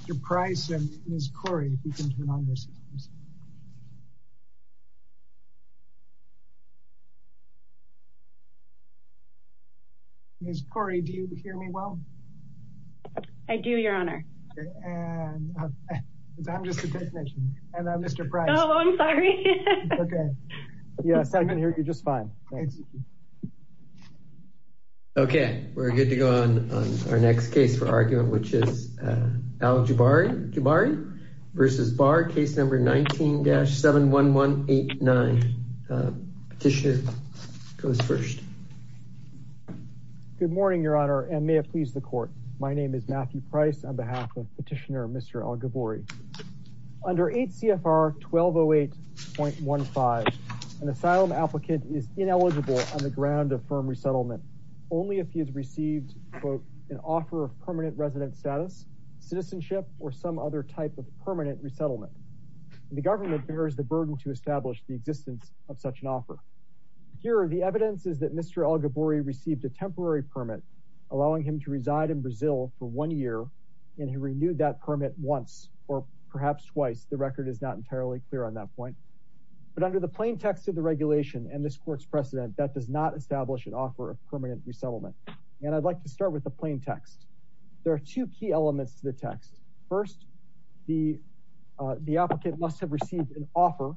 Mr. Price and Ms. Corey, if you can turn on your systems. Ms. Corey, do you hear me well? I do, Your Honor. And I'm just a technician. And Mr. Price. Oh, I'm sorry. Okay. Yes, I can hear you just fine. Okay. We're good to go on. Our next case for argument, which is Al Gburi v. Barr case number 19-71189 petitioner goes first. Good morning, Your Honor, and may it please the court. My name is Matthew Price on behalf of petitioner Mr. Al Gburi. Under 8 CFR 1208.15, an asylum applicant is ineligible on the ground of firm resettlement only if he has received an offer of permanent resident status, citizenship, or some other type of permanent resettlement. The government bears the burden to establish the existence of such an offer. Here are the evidences that Mr. Al Gburi received a temporary permit, allowing him to reside in Brazil for one year. And he renewed that permit once or perhaps twice. The record is not entirely clear on that point. But under the plain text of the regulation and this court's precedent that does not establish an offer of permanent resettlement. And I'd like to start with the plain text. There are two key elements to the text. First, the applicant must have received an offer.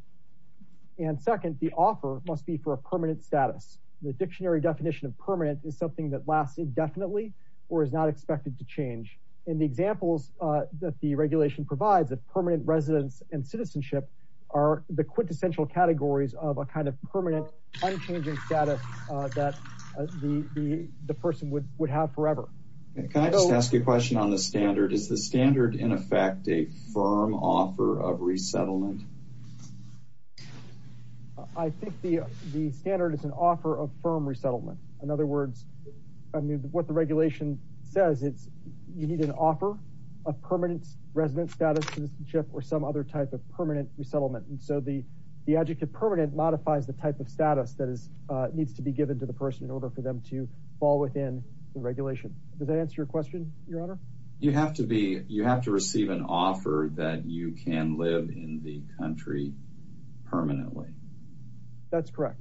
And second, the offer must be for a permanent status. The dictionary definition of permanent is something that lasts indefinitely or is not expected to change. In the examples that the regulation provides that permanent residence and citizenship are the quintessential categories of a kind of permanent, unchanging status that the person would have forever. Can I just ask you a question on the standard? Is the standard in effect a firm offer of resettlement? I think the standard is an offer of firm resettlement. In other words, I mean, what the regulation says, it's you need an offer of permanent resident status, citizenship, or some other type of permanent resettlement. And so the adjective permanent modifies the type of status that needs to be given to the person in order for them to fall within the regulation. Does that answer your question, Your Honor? You have to be, you have to receive an offer that you can live in the country permanently. That's correct.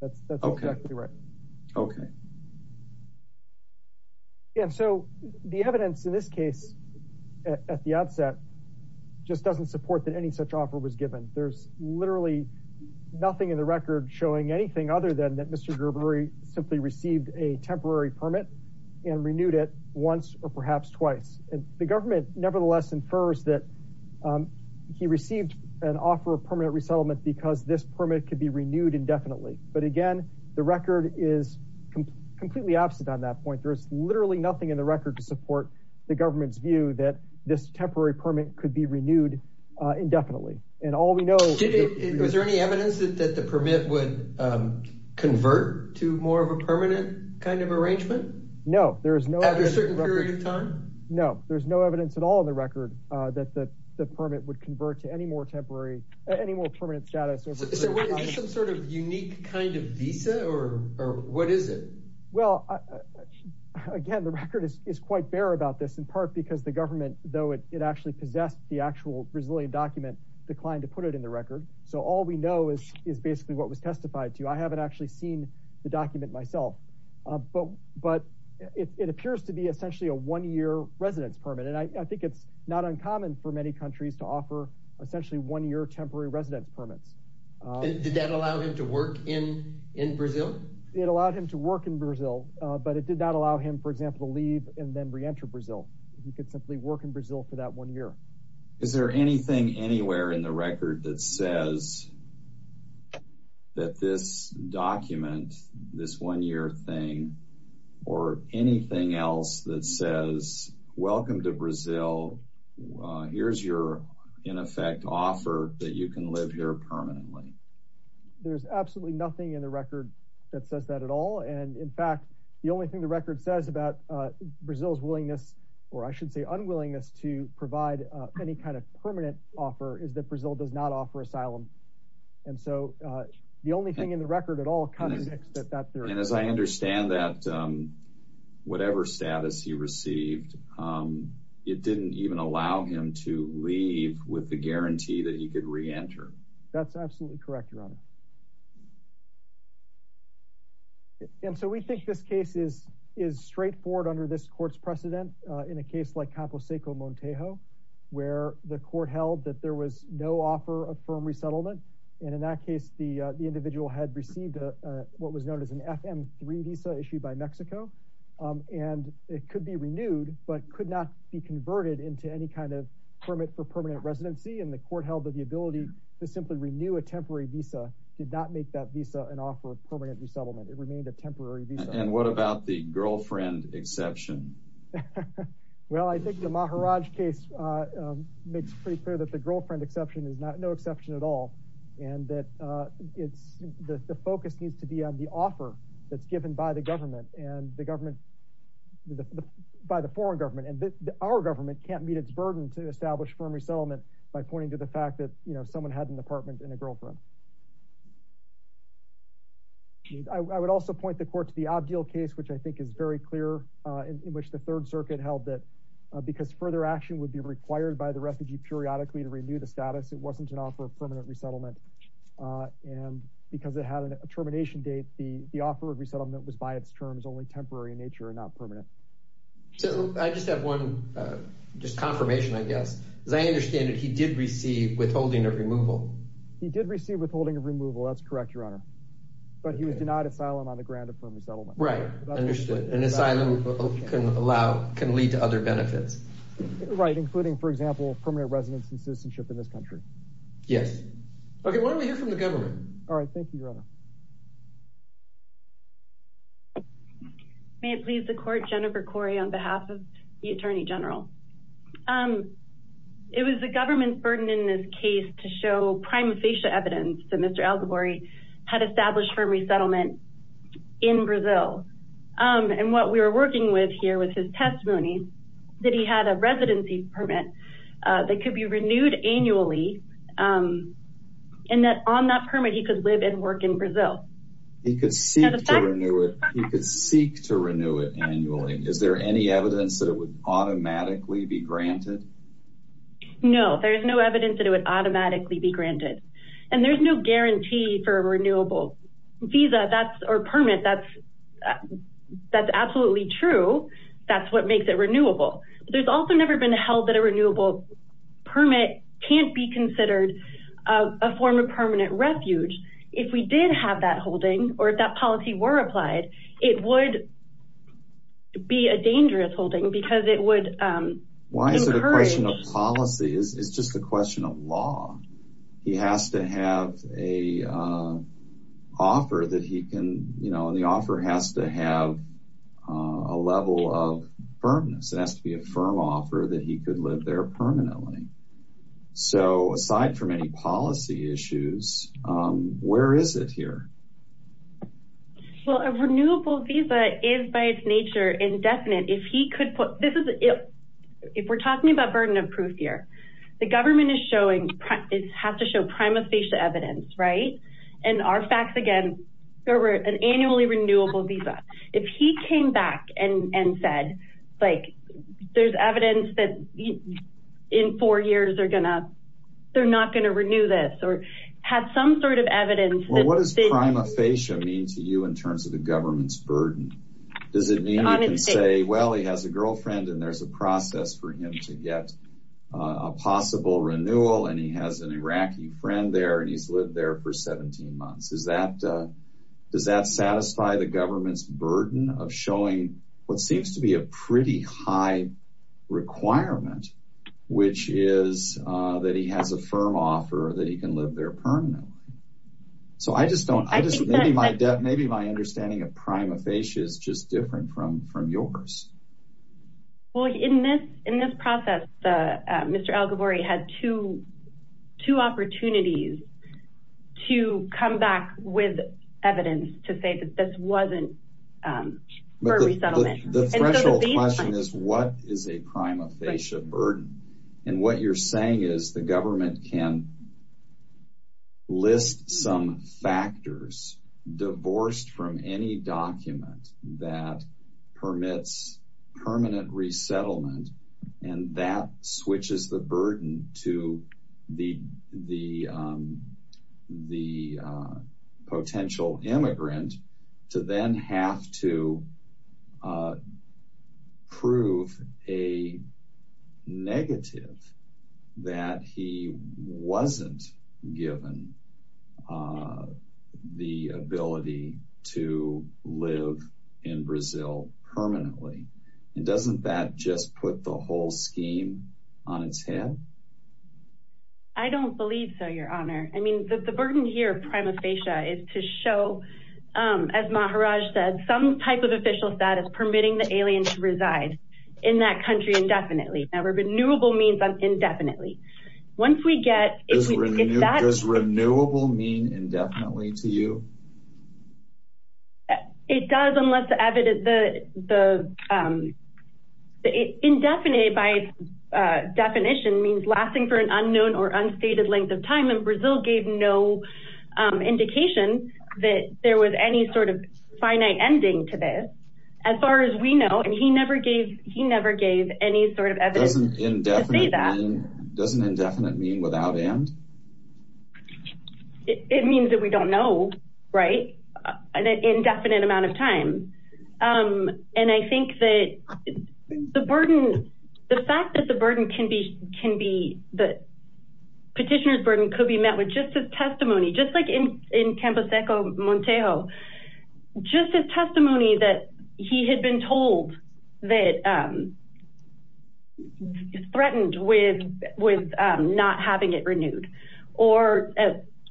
That's exactly right. Okay. Yeah. So the evidence in this case at the outset just doesn't support that any such offer was given. There's literally nothing in the record showing anything other than that Mr. Gerberi simply received a temporary permit and renewed it once or perhaps twice. And the government nevertheless infers that he received an offer of permanent resettlement because this permit could be renewed indefinitely. But again, the record is completely opposite on that point. There's literally nothing in the record to support the government's view that this temporary permit could be renewed indefinitely. And all we know- Was there any evidence that the permit would convert to more of a permanent kind of arrangement? No, there is no- At a certain period of time? No, there's no evidence at all in the record that the permit would convert to any more temporary, any more permanent status. Is there some sort of unique kind of visa or what is it? Well, again, the record is quite bare about this in part because the government, though it actually possessed the actual Brazilian document, declined to put it in the record. So all we know is basically what was testified to. I haven't actually seen the document myself, but it appears to be essentially a one-year residence permit. And I think it's not uncommon for many countries to offer essentially one-year temporary residence permits. Did that allow him to work in Brazil? It allowed him to work in Brazil, but it did not allow him, for example, to leave and then re-enter Brazil. He could simply work in Brazil for that one year. Is there anything anywhere in the record that says that this document, this one-year thing, or anything else that says, welcome to Brazil, here's your, in effect, offer that you can live here permanently? There's absolutely nothing in the record that says that at all. And in fact, the only thing the record says about Brazil's willingness, or I should say unwillingness to provide any kind of permanent offer is that Brazil does not offer asylum. And so the only thing in the record at all kind of indicates that that's there. And as I understand that, whatever status he received, it didn't even allow him to leave with the guarantee that he could re-enter. That's absolutely correct, Your Honor. And so we think this case is straightforward under this court's precedent. In a case like Campo Seco Montejo, where the court held that there was no offer of firm resettlement. And in that case, the individual had received what was known as an FM3 visa issued by Mexico. And it could be renewed, but could not be converted into any kind of permit for permanent residency. And the court held that the ability to simply renew a temporary visa did not make that visa an offer of permanent resettlement. It remained a temporary visa. And what about the girlfriend exception? Well, I think the Maharaj case makes pretty clear that the girlfriend exception is no exception at all. And that the focus needs to be on the offer that's given by the government. And the government, by the foreign government. And our government can't meet its burden to establish firm resettlement by pointing to the fact that someone had an apartment and a girlfriend. I would also point the court to the Abdil case, which I think is very clear, in which the Third Circuit held that because further action would be required by the refugee periodically to renew the status, it wasn't an offer of permanent resettlement. And because it had a termination date, the offer of resettlement was by its terms only temporary in nature and not permanent. So I just have one just confirmation, I guess, as I understand it, he did receive withholding of removal. He did receive withholding of removal. That's correct, Your Honor. But he was denied asylum on the ground of firm resettlement. Right. Understood. And asylum can lead to other benefits. Right. Including, for example, permanent residence and citizenship in this country. Yes. Okay. Why don't we hear from the government? All right. Thank you, Your Honor. May it please the court, Jennifer Corey, on behalf of the Attorney General. It was the government's burden in this case to show prima facie evidence that Mr. Al-Ghabouri had established firm resettlement in Brazil. And what we were working with here was his testimony that he had a residency permit that could be renewed annually and that on that permit he could live and work in Brazil. He could seek to renew it annually. Is there any evidence that it would automatically be granted? No, there is no evidence that it would automatically be granted. And there's no guarantee for a renewable visa or permit. That's absolutely true. That's what makes it renewable. But there's also never been held that a renewable permit can't be considered a form of permanent refuge. If we did have that holding or if that policy were applied, it would be a dangerous holding because it would encourage... Why is it a question of policy? It's just a question of law. He has to have an offer that he can, you know, and the offer has to have a level of firmness. It has to be a firm offer that he could live there permanently. So aside from any policy issues, where is it here? Well, a renewable visa is by its nature indefinite. If he could put... If we're talking about burden of proof here, the government is showing, it has to show prima facie evidence, right? And our facts again, there were an annually renewable visa. If he came back and said, like, there's evidence that in four years they're not going to renew this or had some sort of evidence that... Well, what does prima facie mean to you in terms of the government's burden? Does it mean you can say, well, he has a girlfriend and there's a process for him to get a possible renewal and he has an Iraqi friend there and he's lived there for 17 months? Does that satisfy the government's burden of showing what seems to be a pretty high requirement, which is that he has a firm offer that he can live there permanently? So I just don't... I just... Maybe my understanding of prima facie is just different from yours. Well, in this process, Mr. Al-Ghabouri had two opportunities to come back with evidence to say that this wasn't for resettlement. The threshold question is, what is a prima facie burden? And what you're saying is the government can list some factors divorced from any document that permits permanent resettlement and that switches the burden to the potential immigrant to then have to prove a negative that he wasn't given the ability to live in Brazil permanently. And doesn't that just put the whole scheme on its head? I don't believe so, your honor. The burden here of prima facie is to show, as Maharaj said, some type of official status permitting the alien to reside in that country indefinitely. Now, renewable means indefinitely. Once we get... Does renewable mean indefinitely to you? It does unless the indefinite by definition means lasting for an unknown or unstated length of time and Brazil gave no indication that there was any sort of finite ending to this. As far as we know, and he never gave any sort of evidence to say that. Doesn't indefinite mean without end? It means that we don't know, right? An indefinite amount of time. And I think that the burden, the fact that the petitioner's burden could be met with just his testimony, just like in Campo Seco, Montejo, just his testimony that he had been told that threatened with not having it renewed. Or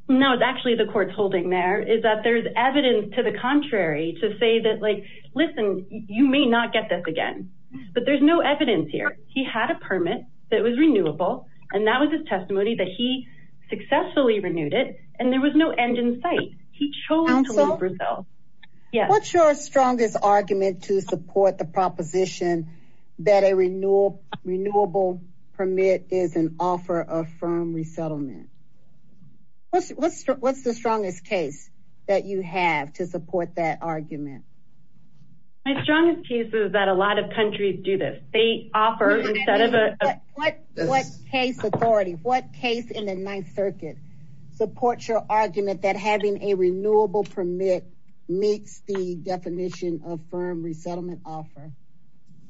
no, it's actually the court's holding there is that there's evidence to the contrary to say that, like, listen, you may not get this again, but there's no evidence here. He had a permit that was renewable and that was his testimony that he successfully renewed it and there was no end in sight. He chose to leave Brazil. What's your strongest argument to support the proposition that a renewable permit is an offer of firm resettlement? What's the strongest case that you have to support that argument? My strongest case is that a lot of countries do this. They offer instead of a what case authority, what case in the Ninth Circuit supports your argument that having a renewable permit makes the definition of firm resettlement offer?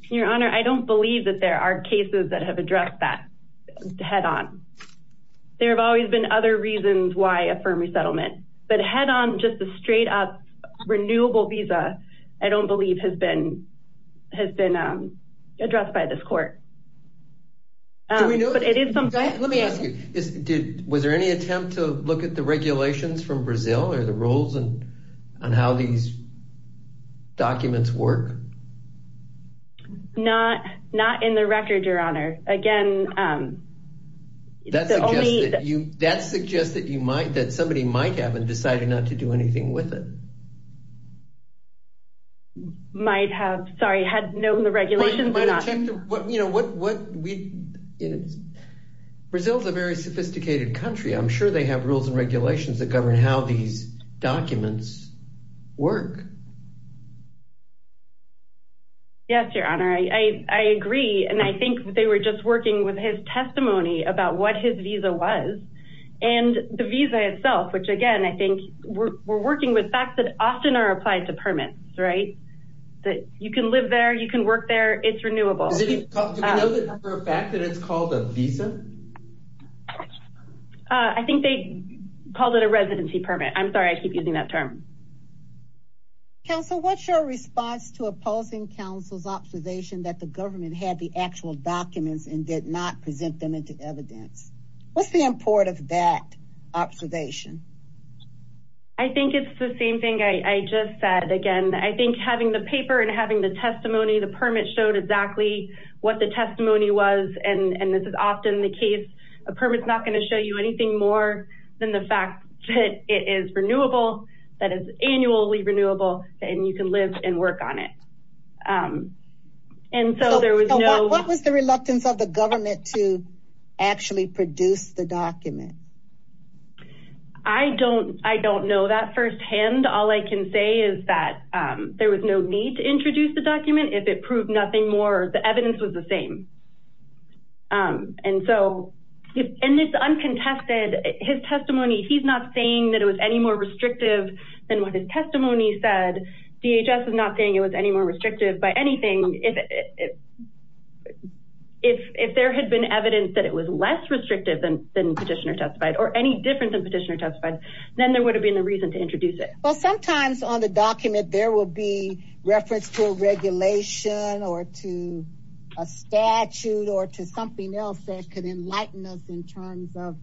Your Honor, I don't believe that there are cases that have addressed that head on. There have always been other reasons why a firm resettlement, but head on, just a straight up renewable visa, I don't believe has been has been addressed by this court. Let me ask you, was there any attempt to look at the regulations from Brazil or the rules on how these documents work? Not in the record, Your Honor. Again... That suggests that somebody might have and decided not to do anything with it. Might have, sorry, had known the regulations. Brazil is a very sophisticated country. I'm sure they have rules and regulations that govern how these documents work. Yes, Your Honor, I agree. And I think they were just working with his testimony about what his visa was and the visa itself, which again, I think we're working with facts that often are applied to permits, right? That you can live there, you can work there. It's renewable. Do we know that for a fact that it's called a visa? I think they called it a residency permit. I'm sorry, I keep using that term. Counsel, what's your response to opposing counsel's observation that the government had the actual documents and did not present them into evidence? What's the import of that observation? I think it's the same thing I just said. Again, I think having the paper and having the testimony, the permit showed exactly what the testimony was. And this is often the case, a permit is not going to show you anything more than the fact that it is renewable, that it's annually renewable, and you can live and work on it. And so there was no... What was the reluctance of the government to actually produce the document? I don't know that firsthand. All I can say is that there was no need to introduce the document if it proved nothing more, the evidence was the same. And so in this uncontested, his testimony, he's not saying that it was any more restrictive than what his testimony said. DHS is not saying it was any more restrictive by anything. If there had been evidence that it was less restrictive than petitioner testified or any different than petitioner testified, then there would have been a reason to introduce it. Well, sometimes on the document, there will be reference to a regulation or to a statute or to something else that could enlighten us in terms of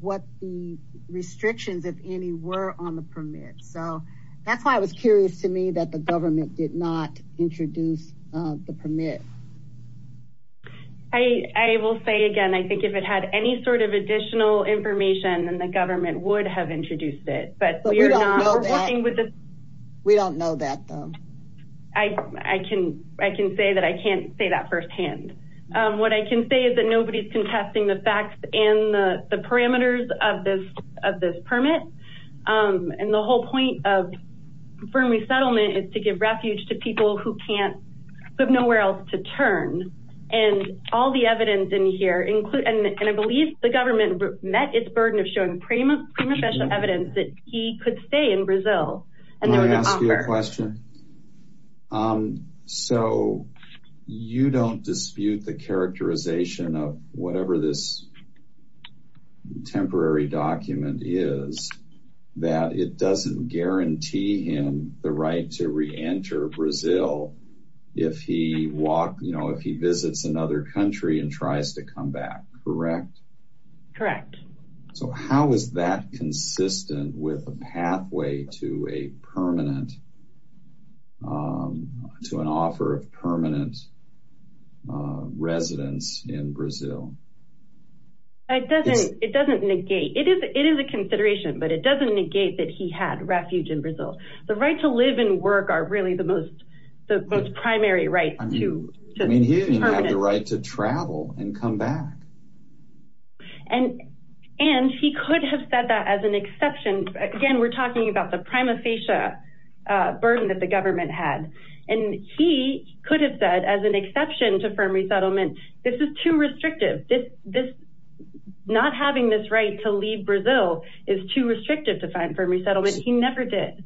what the restrictions, if any, were on the permit. So that's why I was curious to me that the government did not introduce the permit. I will say again, I think if it had any sort of additional information, then the government would have introduced it. But we don't know that though. I can say that I can't say that firsthand. What I can say is that nobody's contesting the facts and the parameters of this of this permit. And the whole point of firm resettlement is to give refuge to people who can't put nowhere else to turn. And all the evidence in here include, and I believe the government met its burden of showing prima prima facie evidence that he could stay in Brazil. May I ask you a question? So you don't dispute the characterization of whatever this temporary document is, that it doesn't guarantee him the right to reenter Brazil if he visits another country and tries to come back, correct? Correct. So how is that consistent with a pathway to a permanent, to an offer of permanent residence in Brazil? It doesn't negate, it is a consideration, but it doesn't negate that he had refuge in Brazil. The right to live and work are really the most primary rights. I mean, he didn't have the right to travel and come back. And, and he could have said that as an exception. Again, we're talking about the prima facie burden that the government had, and he could have said as an exception to firm resettlement, this is too restrictive. This, this not having this right to leave Brazil is too restrictive to find firm resettlement. He never did.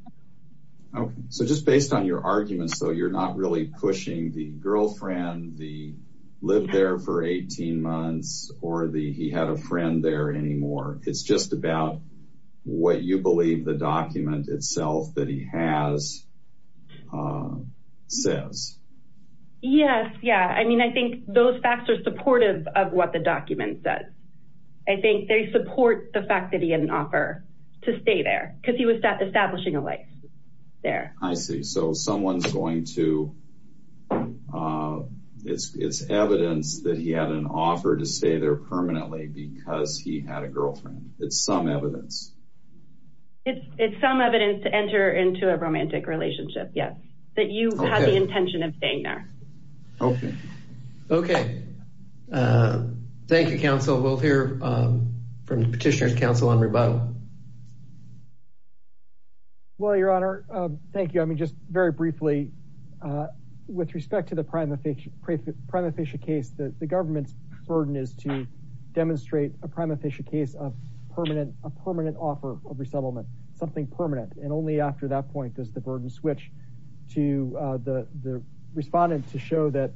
Okay. So just based on your arguments, though, you're not really pushing the girlfriend, the live there for 18 months or the, he had a friend there anymore. It's just about what you believe the document itself that he has says. Yes. Yeah. I mean, I think those facts are supportive of what the document says. I think they support the fact that he had an offer to stay there because he was establishing a life there. I see. So someone's going to, it's, it's evidence that he had an offer to stay there permanently because he had a girlfriend. It's some evidence. It's some evidence to enter into a romantic relationship. Yes. That you had the intention of staying there. Okay. Okay. Thank you, counsel. We'll hear from petitioner's counsel on rebuttal. Well, your honor, um, thank you. I mean, just very briefly, uh, with respect to the prime official prime official case, the, the government's burden is to demonstrate a prime official case of permanent, a permanent offer of resettlement, something permanent. And only after that point does the burden switch to, uh, the, the respondent to show that,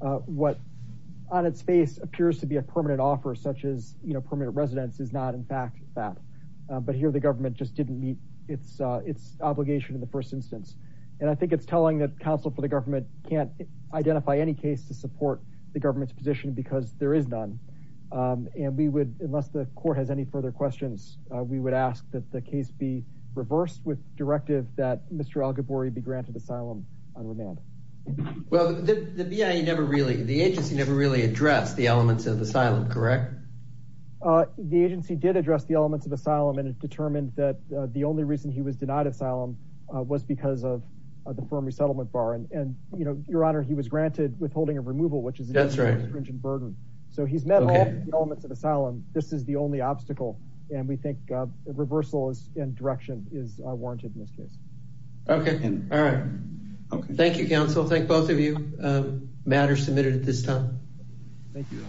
uh, what on its face appears to be a permanent offer such as, you know, permanent residence is not in fact that. Uh, but here the government just didn't meet its, uh, its obligation in the first instance. And I think it's telling that counsel for the government can't identify any case to support the government's position because there is none. Um, and we would, unless the court has any further questions, uh, we would ask that the case be reversed with directive that Mr. Al Gabori be granted asylum on remand. Well, the, the VA never really, the agency never really addressed the elements of asylum. Correct. Uh, the agency did address the elements of asylum and it determined that, uh, the only reason he was denied asylum, uh, was because of the firm resettlement bar. And, and, you know, your honor, he was granted withholding of removal, which is a burden. So he's met all the elements of asylum. This is the only obstacle. And we think a reversal is in direction is warranted in this case. Okay. All right. Thank you, counsel. Thank both of you, uh, matters submitted at this time. Thank you.